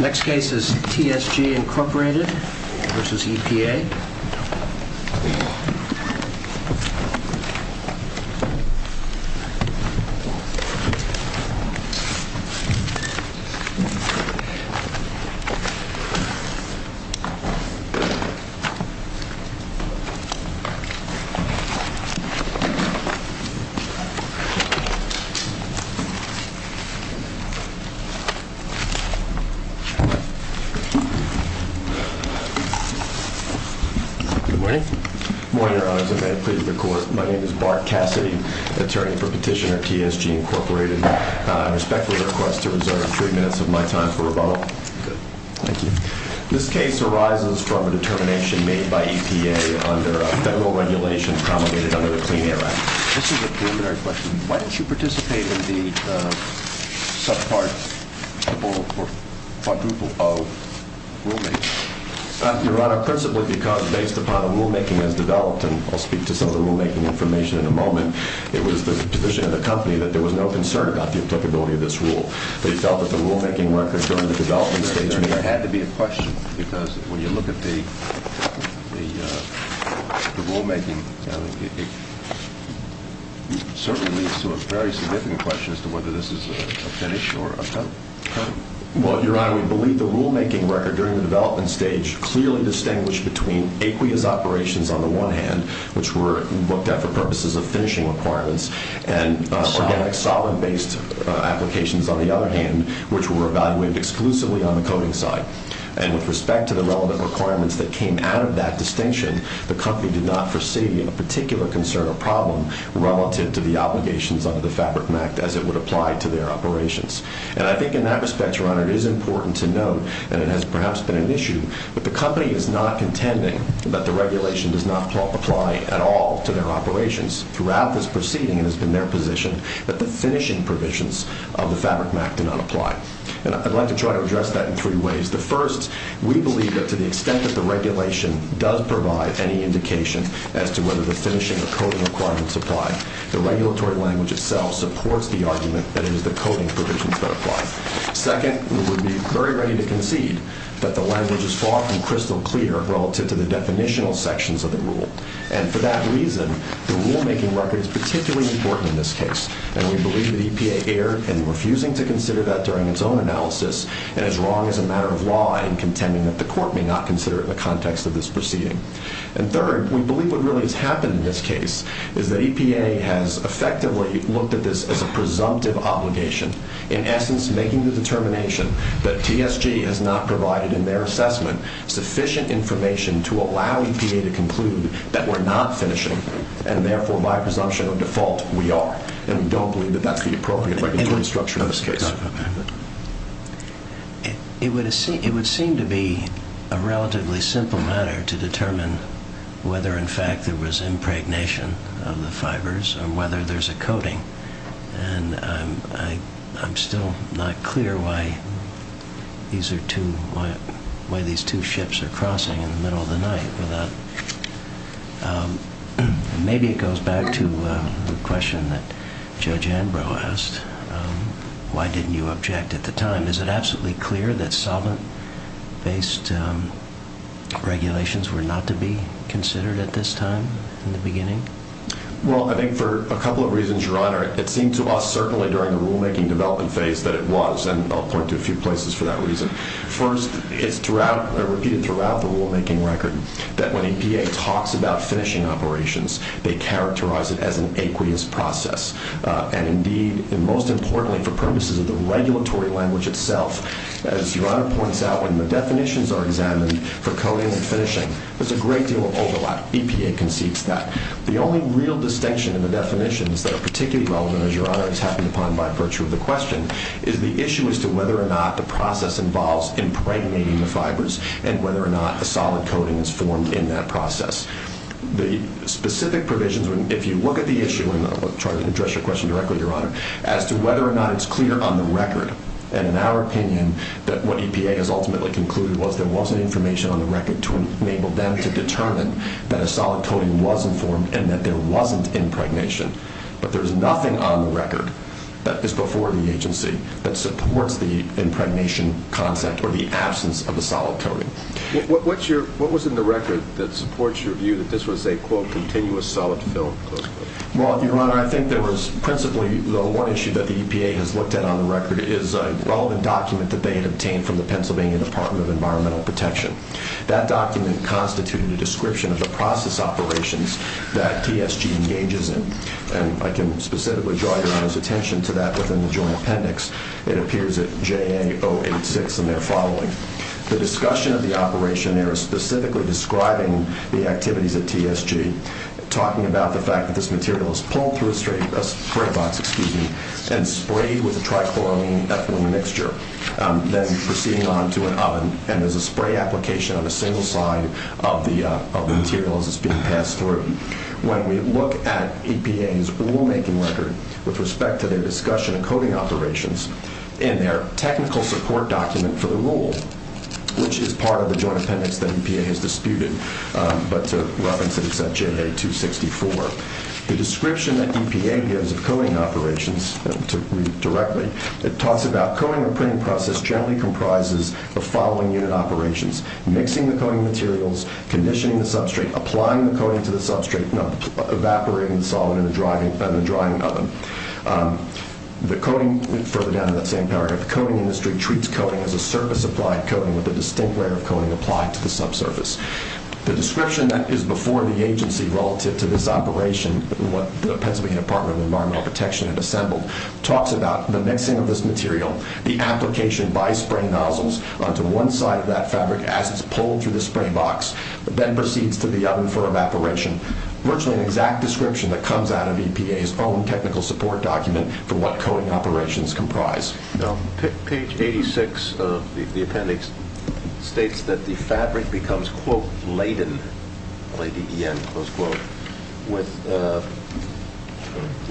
Next case is TSG Incorporated versus EPA. Good morning. Good morning, Your Honor. My name is Bart Cassidy, attorney for Petitioner TSG Incorporated. I respectfully request to reserve three minutes of my time for rebuttal. Good. Thank you. This case arises from a determination made by EPA under a federal regulation promulgated under the Clean Air Act. This is a preliminary question. Why don't you participate in the subpart, or quadruple, of rulemaking? Your Honor, principally because based upon the rulemaking as developed, and I'll speak to some of the rulemaking information in a moment, it was the position of the company that there was no concern about the applicability of this rule. They felt that the rulemaking record during the development stage may have… Certainly leads to a very significant question as to whether this is a finish or a cut. Well, Your Honor, we believe the rulemaking record during the development stage clearly distinguished between aqueous operations on the one hand, which were looked at for purposes of finishing requirements, and organic solid-based applications on the other hand, which were evaluated exclusively on the coding side. And with respect to the relevant requirements that came out of that distinction, the company did not foresee a particular concern or problem relative to the obligations under the Fabric Act as it would apply to their operations. And I think in that respect, Your Honor, it is important to note, and it has perhaps been an issue, but the company is not contending that the regulation does not apply at all to their operations. Throughout this proceeding, it has been their position that the finishing provisions of the Fabric Act do not apply. And I'd like to try to address that in three ways. The first, we believe that to the extent that the regulation does provide any indication as to whether the finishing or coding requirements apply, the regulatory language itself supports the argument that it is the coding provisions that apply. Second, we would be very ready to concede that the language is far from crystal clear relative to the definitional sections of the rule. And for that reason, the rulemaking record is particularly important in this case. And we believe that EPA erred in refusing to consider that during its own analysis and is wrong as a matter of law in contending that the court may not consider it in the context of this proceeding. And third, we believe what really has happened in this case is that EPA has effectively looked at this as a presumptive obligation, in essence making the determination that TSG has not provided in their assessment sufficient information to allow EPA to conclude that we're not finishing and therefore, by presumption of default, we are. And we don't believe that that's the appropriate regulatory structure in this case. It would seem to be a relatively simple matter to determine whether in fact there was impregnation of the fibers or whether there's a coding. And I'm still not clear why these two ships are crossing in the middle of the night. Thank you for that. Maybe it goes back to the question that Judge Ambrose asked, why didn't you object at the time? Is it absolutely clear that solvent-based regulations were not to be considered at this time in the beginning? Well, I think for a couple of reasons, Your Honor. It seemed to us certainly during the rulemaking development phase that it was, and I'll point to a few places for that reason. First, it's repeated throughout the rulemaking record that when EPA talks about finishing operations, they characterize it as an aqueous process. And indeed, and most importantly for purposes of the regulatory language itself, as Your Honor points out, when the definitions are examined for coding and finishing, there's a great deal of overlap. EPA concedes that. The only real distinction in the definitions that are particularly relevant, as Your Honor is happy upon by virtue of the question, is the issue as to whether or not the process involves impregnating the fibers and whether or not a solid coding is formed in that process. The specific provisions, if you look at the issue, and I'll try to address your question directly, Your Honor, as to whether or not it's clear on the record, and in our opinion, that what EPA has ultimately concluded was there wasn't information on the record to enable them to determine that a solid coding was informed and that there wasn't impregnation. But there is nothing on the record that is before the agency that supports the impregnation concept or the absence of a solid coding. What was in the record that supports your view that this was a, quote, continuous solid film? Well, Your Honor, I think there was principally the one issue that the EPA has looked at on the record is a relevant document that they had obtained from the Pennsylvania Department of Environmental Protection. That document constituted a description of the process operations that TSG engages in. And I can specifically draw Your Honor's attention to that within the Joint Appendix. It appears at JA 086 in there following. The discussion of the operation there is specifically describing the activities at TSG, talking about the fact that this material is pulled through a spray box and sprayed with a trichloroethylene mixture, then proceeding on to an oven, and there's a spray application on a single side of the material as it's being passed through. When we look at EPA's rulemaking record with respect to their discussion of coding operations in their technical support document for the rule, which is part of the Joint Appendix that EPA has disputed, but to reference it, it's at JA 264. The description that EPA gives of coding operations, to read directly, it talks about coding or printing process generally comprises the following unit operations, mixing the coding materials, conditioning the substrate, applying the coding to the substrate, evaporating the solid in the drying oven. The coding further down in that same paragraph, the coding industry treats coding as a surface-applied coding with a distinct layer of coding applied to the subsurface. The description that is before the agency relative to this operation, what the Pennsylvania Department of Environmental Protection had assembled, talks about the mixing of this material, the application by spray nozzles onto one side of that fabric as it's pulled through the spray box, then proceeds to the oven for evaporation. Virtually an exact description that comes out of EPA's own technical support document for what coding operations comprise. Page 86 of the appendix states that the fabric becomes quote, laden, L-A-D-E-N, close quote, with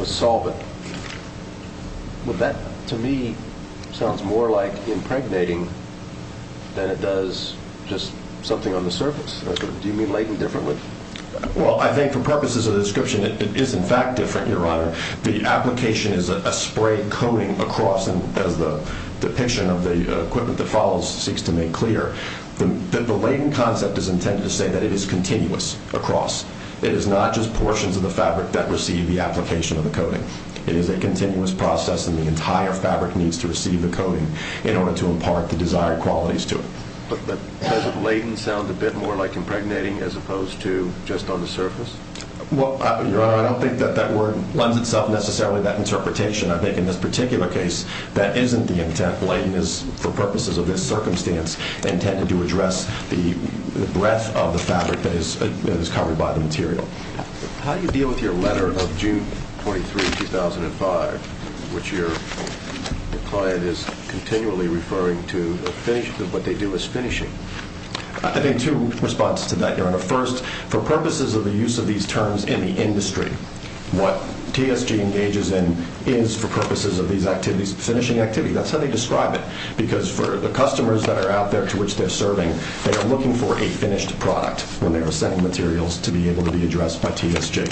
solvent. That, to me, sounds more like impregnating than it does just something on the surface. Do you mean laden differently? Well, I think for purposes of the description, it is in fact different, Your Honor. The application is a spray coding across, and as the depiction of the equipment that follows seeks to make clear, the laden concept is intended to say that it is continuous across. It is not just portions of the fabric that receive the application of the coding. It is a continuous process, and the entire fabric needs to receive the coding in order to impart the desired qualities to it. But doesn't laden sound a bit more like impregnating as opposed to just on the surface? Well, Your Honor, I don't think that that word lends itself necessarily to that interpretation. I think in this particular case, that isn't the intent. That laden is, for purposes of this circumstance, intended to address the breadth of the fabric that is covered by the material. How do you deal with your letter of June 23, 2005, which your client is continually referring to what they do as finishing? I think two responses to that, Your Honor. First, for purposes of the use of these terms in the industry, what TSG engages in is for purposes of these activities, finishing activities. That's how they describe it, because for the customers that are out there to which they're serving, they are looking for a finished product when they are sending materials to be able to be addressed by TSG.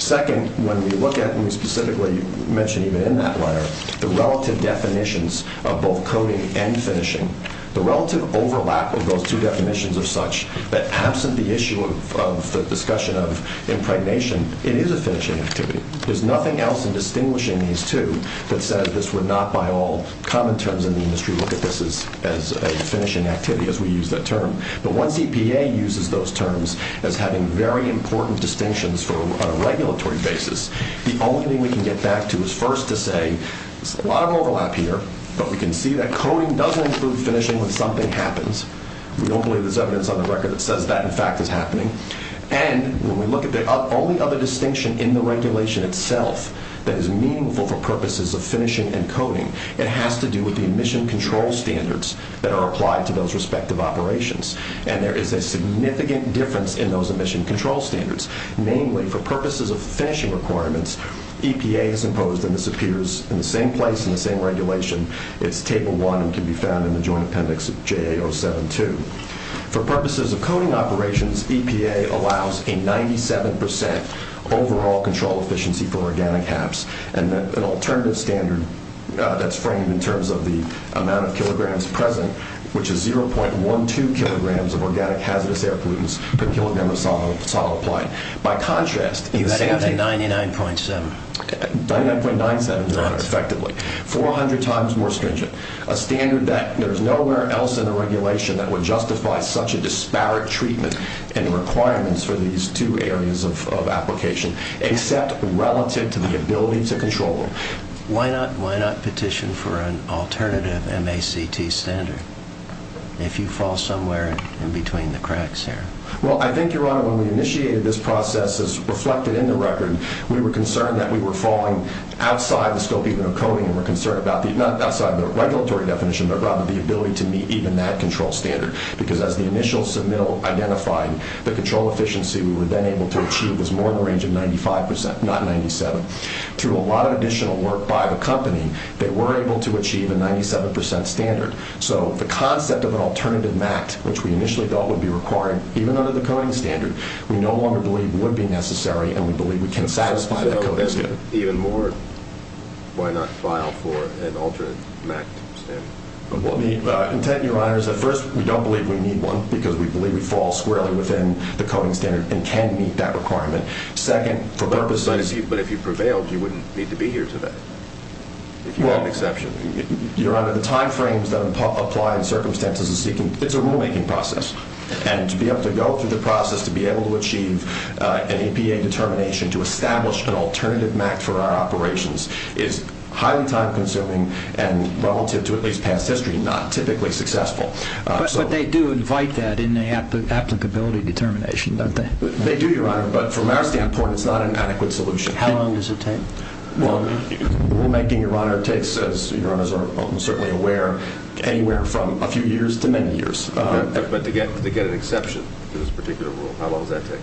Second, when we look at and we specifically mention even in that letter the relative definitions of both coding and finishing, the relative overlap of those two definitions of such that absent the issue of the discussion of impregnation, it is a finishing activity. There's nothing else in distinguishing these two that says this would not by all common terms in the industry look at this as a finishing activity as we use that term. But once EPA uses those terms as having very important distinctions from a regulatory basis, the only thing we can get back to is first to say there's a lot of overlap here, but we can see that coding doesn't include finishing when something happens. We don't believe there's evidence on the record that says that, in fact, is happening. And when we look at the only other distinction in the regulation itself that is meaningful for purposes of finishing and coding, it has to do with the emission control standards that are applied to those respective operations. And there is a significant difference in those emission control standards. Namely, for purposes of finishing requirements, EPA has imposed, and this appears in the same place in the same regulation, it's Table 1 and can be found in the Joint Appendix of JA 072. For purposes of coding operations, EPA allows a 97 percent overall control efficiency for organic HAPs and an alternative standard that's framed in terms of the amount of kilograms present, which is 0.12 kilograms of organic hazardous air pollutants per kilogram of solid applied. By contrast... You had it at 99.7. 99.97, Your Honor, effectively. 400 times more stringent. A standard that there's nowhere else in the regulation that would justify such a disparate treatment and requirements for these two areas of application, except relative to the ability to control them. Why not petition for an alternative MACT standard if you fall somewhere in between the cracks here? Well, I think, Your Honor, when we initiated this process, as reflected in the record, we were concerned that we were falling outside the scope even of coding and we were concerned about, not outside the regulatory definition, but rather the ability to meet even that control standard because as the initial submittal identified, the control efficiency we were then able to achieve was more in the range of 95 percent, not 97. Through a lot of additional work by the company, they were able to achieve a 97 percent standard. So the concept of an alternative MACT, which we initially thought would be required, even under the coding standard, we no longer believe would be necessary and we believe we can satisfy that coding standard. Even more, why not file for an alternate MACT standard? The intent, Your Honor, is that first, we don't believe we need one because we believe we fall squarely within the coding standard and can meet that requirement. Second, for purposes... But if you prevailed, you wouldn't need to be here today, if you had an exception. Your Honor, the timeframes that apply and circumstances of seeking, it's a rulemaking process. And to be able to go through the process, to be able to achieve an EPA determination, to establish an alternative MACT for our operations, is highly time-consuming and, relative to at least past history, not typically successful. But they do invite that in the applicability determination, don't they? They do, Your Honor, but from our standpoint, it's not an adequate solution. How long does it take? Rulemaking, Your Honor, takes, as Your Honors are certainly aware, anywhere from a few years to many years. But to get an exception to this particular rule, how long does that take?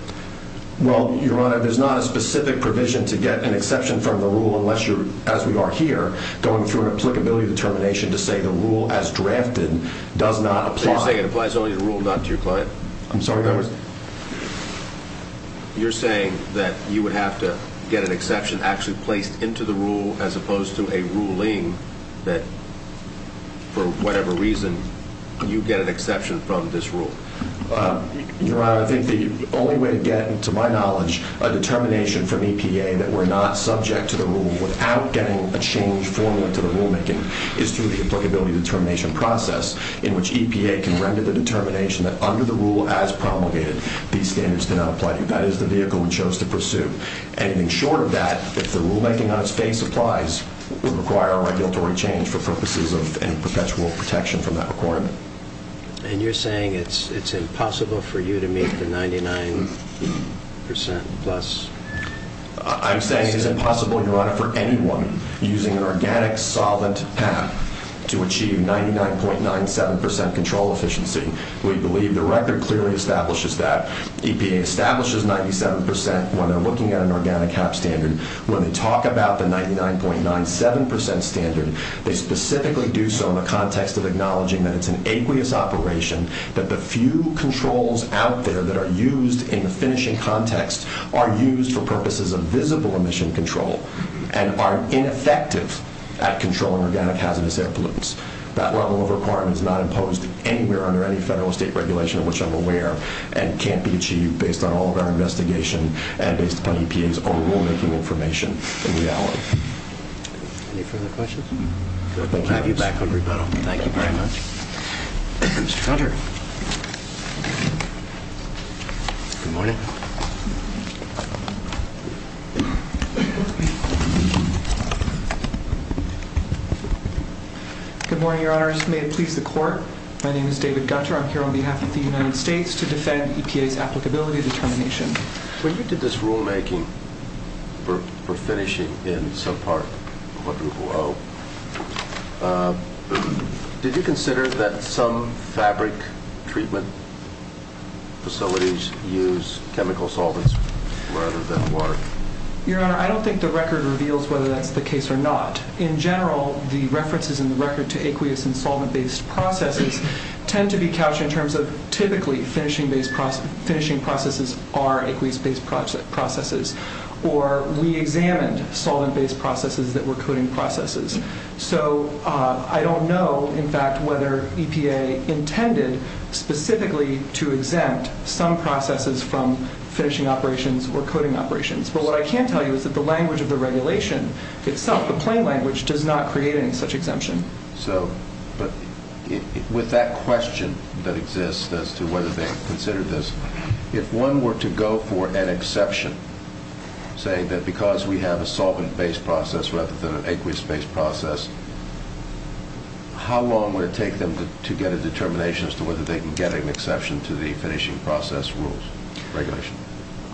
Well, Your Honor, there's not a specific provision to get an exception from the rule unless you're, as we are here, going through an applicability determination to say the rule as drafted does not apply. So you're saying it applies only to the rule, not to your client? I'm sorry, that was... You're saying that you would have to get an exception actually placed into the rule as opposed to a ruling that, for whatever reason, you get an exception from this rule? Your Honor, I think the only way to get, to my knowledge, a determination from EPA that we're not subject to the rule without getting a change formally to the rulemaking is through the applicability determination process in which EPA can render the determination that, under the rule as promulgated, these standards do not apply to you. That is the vehicle we chose to pursue. Anything short of that, if the rulemaking on its face applies, would require a regulatory change for purposes of any perpetual protection from that requirement. And you're saying it's impossible for you to meet the 99% plus... I'm saying it's impossible, Your Honor, for anyone using an organic solvent HAP to achieve 99.97% control efficiency. We believe the record clearly establishes that. EPA establishes 97% when they're looking at an organic HAP standard. When they talk about the 99.97% standard, they specifically do so in the context of acknowledging that it's an aqueous operation, that the few controls out there that are used in the finishing context are used for purposes of visible emission control and are ineffective at controlling organic hazardous air pollutants. That level of requirement is not imposed anywhere under any federal or state regulation of which I'm aware and can't be achieved based on all of our investigation and based upon EPA's own rulemaking information in reality. Any further questions? We'll have you back on rebuttal. Thank you very much. Mr. Gunter. Good morning. Good morning, Your Honors. May it please the Court. My name is David Gunter. I'm here on behalf of the United States to defend EPA's applicability determination. When you did this rulemaking for finishing in subpart 1000, did you consider that some fabric treatment facilities use chemical solvents rather than water? Your Honor, I don't think the record reveals whether that's the case or not. In general, the references in the record to aqueous and solvent-based processes tend to be couched in terms of typically finishing processes are aqueous-based processes, or we examined solvent-based processes that were coding processes. So I don't know, in fact, whether EPA intended specifically to exempt some processes from finishing operations or coding operations. But what I can tell you is that the language of the regulation itself, the plain language, does not create any such exemption. So with that question that exists as to whether they considered this, if one were to go for an exception, say that because we have a solvent-based process rather than an aqueous-based process, how long would it take them to get a determination as to whether they can get an exception to the finishing process rules regulation?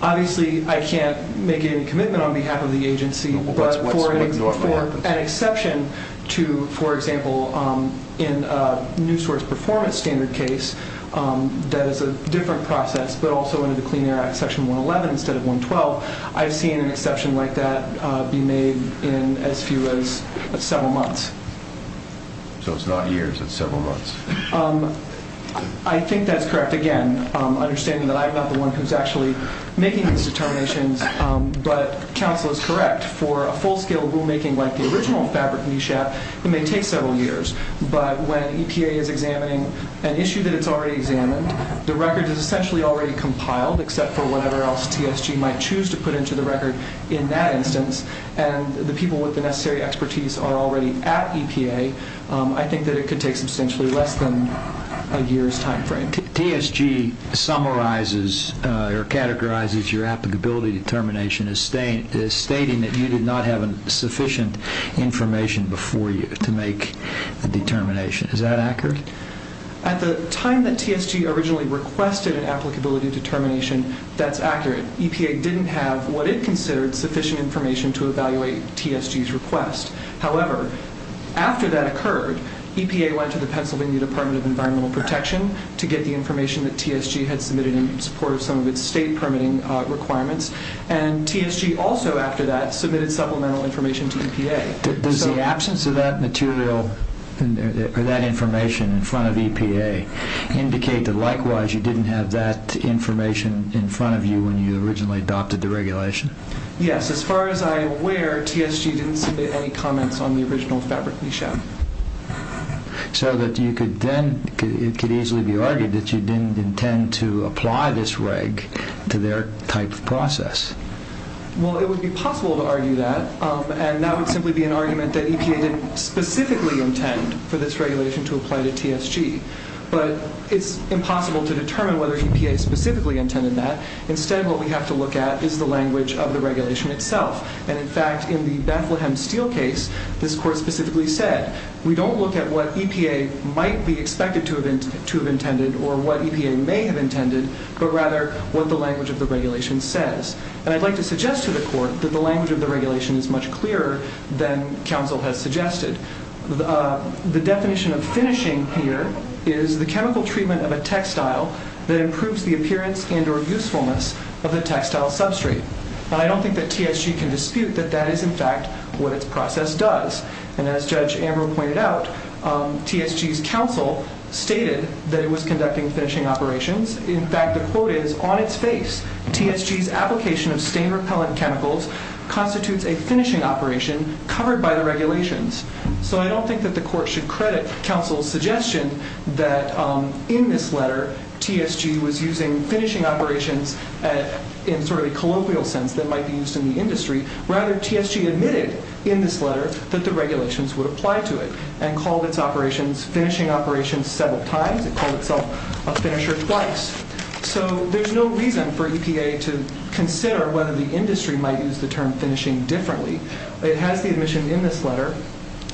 Obviously, I can't make any commitment on behalf of the agency. But for an exception to, for example, in a new source performance standard case, that is a different process, but also under the Clean Air Act Section 111 instead of 112, I've seen an exception like that be made in as few as several months. So it's not years, it's several months. I think that's correct. Again, understanding that I'm not the one who's actually making these determinations, but counsel is correct. For a full-scale rulemaking like the original fabric NESHAP, it may take several years. But when EPA is examining an issue that it's already examined, the record is essentially already compiled, except for whatever else TSG might choose to put into the record in that instance, and the people with the necessary expertise are already at EPA, I think that it could take substantially less than a year's time frame. TSG summarizes or categorizes your applicability determination as stating that you did not have sufficient information before you to make the determination. Is that accurate? At the time that TSG originally requested an applicability determination, that's accurate. EPA didn't have what it considered sufficient information to evaluate TSG's request. However, after that occurred, EPA went to the Pennsylvania Department of Environmental Protection to get the information that TSG had submitted in support of some of its state permitting requirements, and TSG also after that submitted supplemental information to EPA. Does the absence of that material or that information in front of EPA indicate that likewise you didn't have that information in front of you when you originally adopted the regulation? Yes. As far as I am aware, TSG didn't submit any comments on the original fabric NESHAP. So it could easily be argued that you didn't intend to apply this reg to their type of process. Well, it would be possible to argue that, and that would simply be an argument that EPA didn't specifically intend for this regulation to apply to TSG. But it's impossible to determine whether EPA specifically intended that. Instead, what we have to look at is the language of the regulation itself. And in fact, in the Bethlehem Steel case, this Court specifically said, we don't look at what EPA might be expected to have intended or what EPA may have intended, but rather what the language of the regulation says. And I'd like to suggest to the Court that the language of the regulation is much clearer than counsel has suggested. The definition of finishing here is the chemical treatment of a textile that improves the appearance and or usefulness of the textile substrate. And I don't think that TSG can dispute that that is in fact what its process does. And as Judge Ambrose pointed out, TSG's counsel stated that it was conducting finishing operations. In fact, the quote is, TSG's application of stain-repellent chemicals constitutes a finishing operation covered by the regulations. So I don't think that the Court should credit counsel's suggestion that in this letter TSG was using finishing operations in sort of a colloquial sense that might be used in the industry. Rather, TSG admitted in this letter that the regulations would apply to it and called its operations finishing operations several times. It called itself a finisher twice. So there's no reason for EPA to consider whether the industry might use the term finishing differently. It has the admission in this letter,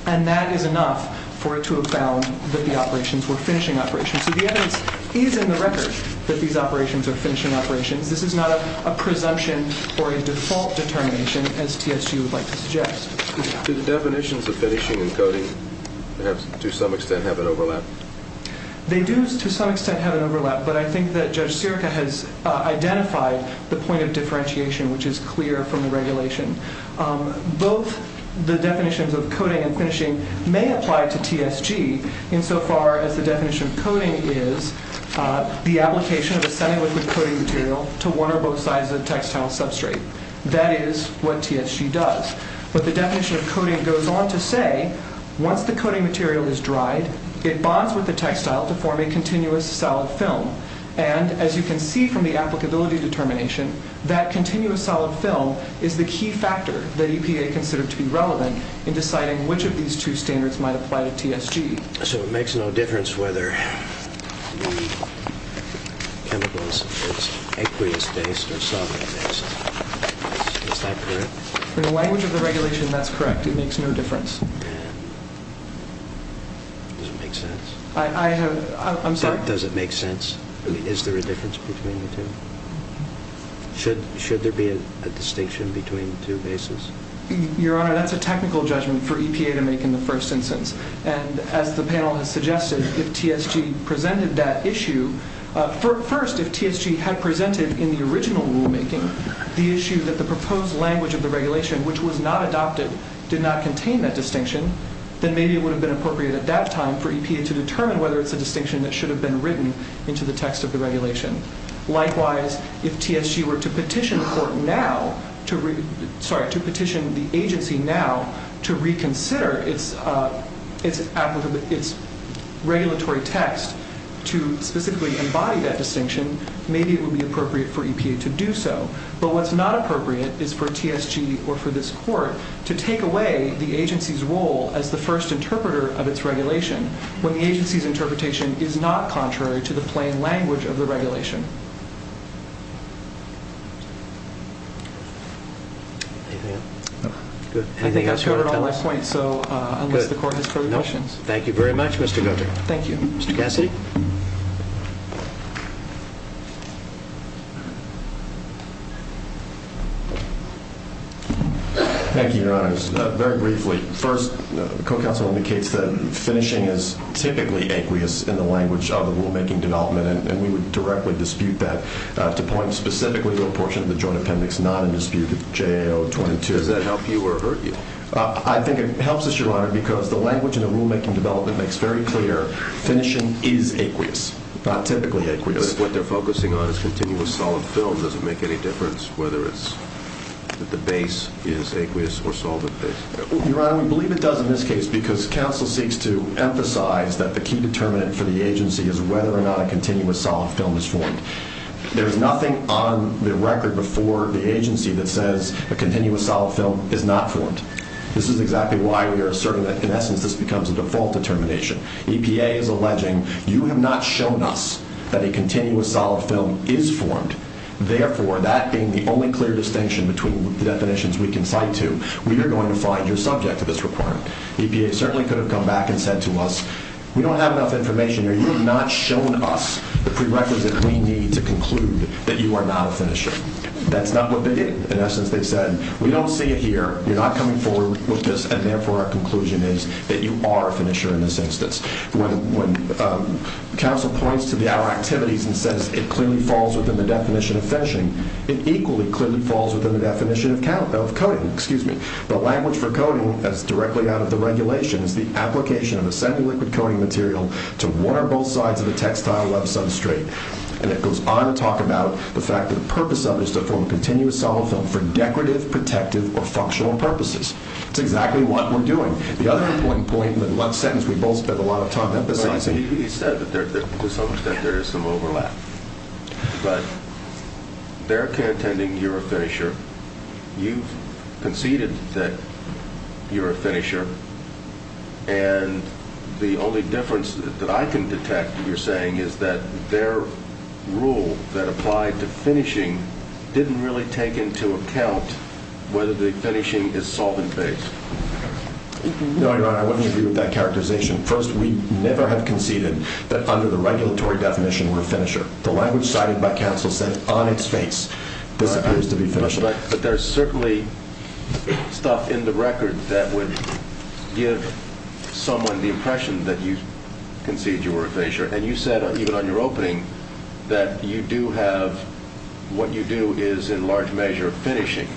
and that is enough for it to have found that the operations were finishing operations. So the evidence is in the record that these operations are finishing operations. This is not a presumption or a default determination, as TSG would like to suggest. Do the definitions of finishing and coating to some extent have an overlap? They do to some extent have an overlap, but I think that Judge Sirica has identified the point of differentiation, which is clear from the regulation. Both the definitions of coating and finishing may apply to TSG insofar as the definition of coating is the application of a semi-liquid coating material to one or both sides of the textile substrate. That is what TSG does. once the coating material is dried, it bonds with the textile to form a continuous solid film, and as you can see from the applicability determination, that continuous solid film is the key factor that EPA considered to be relevant in deciding which of these two standards might apply to TSG. So it makes no difference whether the chemical is aqueous-based or solvent-based. Is that correct? In the language of the regulation, that's correct. It makes no difference. Does it make sense? I'm sorry? Does it make sense? I mean, is there a difference between the two? Should there be a distinction between the two bases? Your Honor, that's a technical judgment for EPA to make in the first instance, and as the panel has suggested, if TSG presented that issue, first, if TSG had presented in the original rulemaking the issue that the proposed language of the regulation, which was not adopted, did not contain that distinction, then maybe it would have been appropriate at that time for EPA to determine whether it's a distinction that should have been written into the text of the regulation. Likewise, if TSG were to petition the agency now to reconsider its regulatory text to specifically embody that distinction, maybe it would be appropriate for EPA to do so. But what's not appropriate is for TSG or for this Court to take away the agency's role as the first interpreter of its regulation when the agency's interpretation is not contrary to the plain language of the regulation. I think that's covered all my points, so unless the Court has further questions. Thank you very much, Mr. Goetting. Thank you. Mr. Cassidy? Thank you, Your Honor. Very briefly, first, the Co-Counsel indicates that finishing is typically aqueous in the language of the rulemaking development, and we would directly dispute that to point specifically to a portion of the Joint Appendix, not in dispute with JAO 22. Does that help you or hurt you? I think it helps us, Your Honor, because the language in the rulemaking development makes very clear finishing is aqueous, not typically aqueous. But if what they're focusing on is continuous solid film, does it make any difference whether the base is aqueous or solid base? Your Honor, we believe it does in this case because counsel seeks to emphasize that the key determinant for the agency is whether or not a continuous solid film is formed. There's nothing on the record before the agency that says a continuous solid film is not formed. This is exactly why we are asserting that, in essence, this becomes a default determination. EPA is alleging, you have not shown us that a continuous solid film is formed. Therefore, that being the only clear distinction between the definitions we can cite to, we are going to find you subject to this requirement. EPA certainly could have come back and said to us, we don't have enough information here. You have not shown us the prerequisite we need to conclude that you are not a finisher. That's not what they did. In essence, they said, we don't see it here. You're not coming forward with this, and therefore our conclusion is that you are a finisher in this instance. When counsel points to our activities and says it clearly falls within the definition of finishing, it equally clearly falls within the definition of coating. The language for coating, as directly out of the regulation, is the application of a semi-liquid coating material to one or both sides of the textile web substrate. And it goes on to talk about the fact that the purpose of it is to form a continuous solid film for decorative, protective, or functional purposes. That's exactly what we're doing. The other point in the last sentence, we both spent a lot of time emphasizing. He said that to some extent there is some overlap. But they're contending you're a finisher. You've conceded that you're a finisher. And the only difference that I can detect, you're saying, is that their rule that applied to finishing didn't really take into account whether the finishing is solvent-based. No, Your Honor, I wouldn't agree with that characterization. First, we never have conceded that under the regulatory definition we're a finisher. The language cited by counsel said on its face this appears to be finishing. But there's certainly stuff in the record that would give someone the impression that you concede you were a finisher. And you said even on your opening that you do have what you do is in large measure finishing.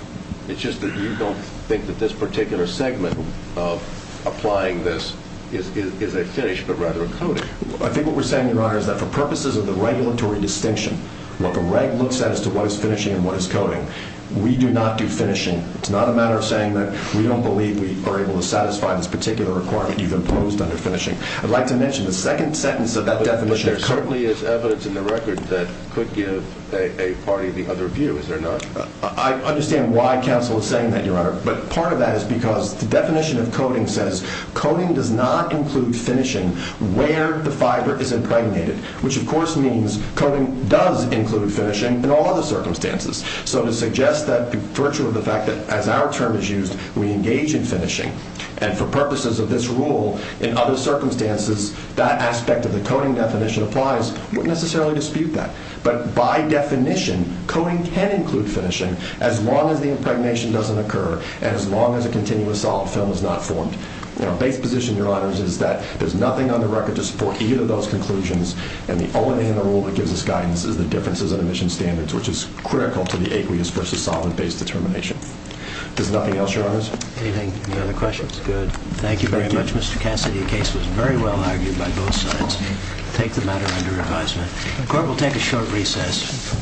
It's just that you don't think that this particular segment of applying this is a finish but rather a coating. I think what we're saying, Your Honor, is that for purposes of the regulatory distinction, what the reg looks at as to what is finishing and what is coating, we do not do finishing. It's not a matter of saying that we don't believe we are able to satisfy this particular requirement you've imposed under finishing. I'd like to mention the second sentence of that definition. But there certainly is evidence in the record that could give a party the other view, is there not? I understand why counsel is saying that, Your Honor. But part of that is because the definition of coating says coating does not include finishing where the fiber is impregnated, which, of course, means coating does include finishing in all other circumstances. So to suggest that the virtue of the fact that as our term is used we engage in finishing and for purposes of this rule in other circumstances that aspect of the coating definition applies, we wouldn't necessarily dispute that. But by definition, coating can include finishing as long as the impregnation doesn't occur and as long as a continuous solid film is not formed. Now, base position, Your Honors, is that there's nothing on the record to support either of those conclusions and the only thing in the rule that gives us guidance is the differences in emission standards, which is critical to the aqueous versus solvent-based determination. There's nothing else, Your Honors? Anything? Any other questions? Good. Thank you very much, Mr. Cassidy. The case was very well argued by both sides. Take the matter under advisement. The court will take a short recess.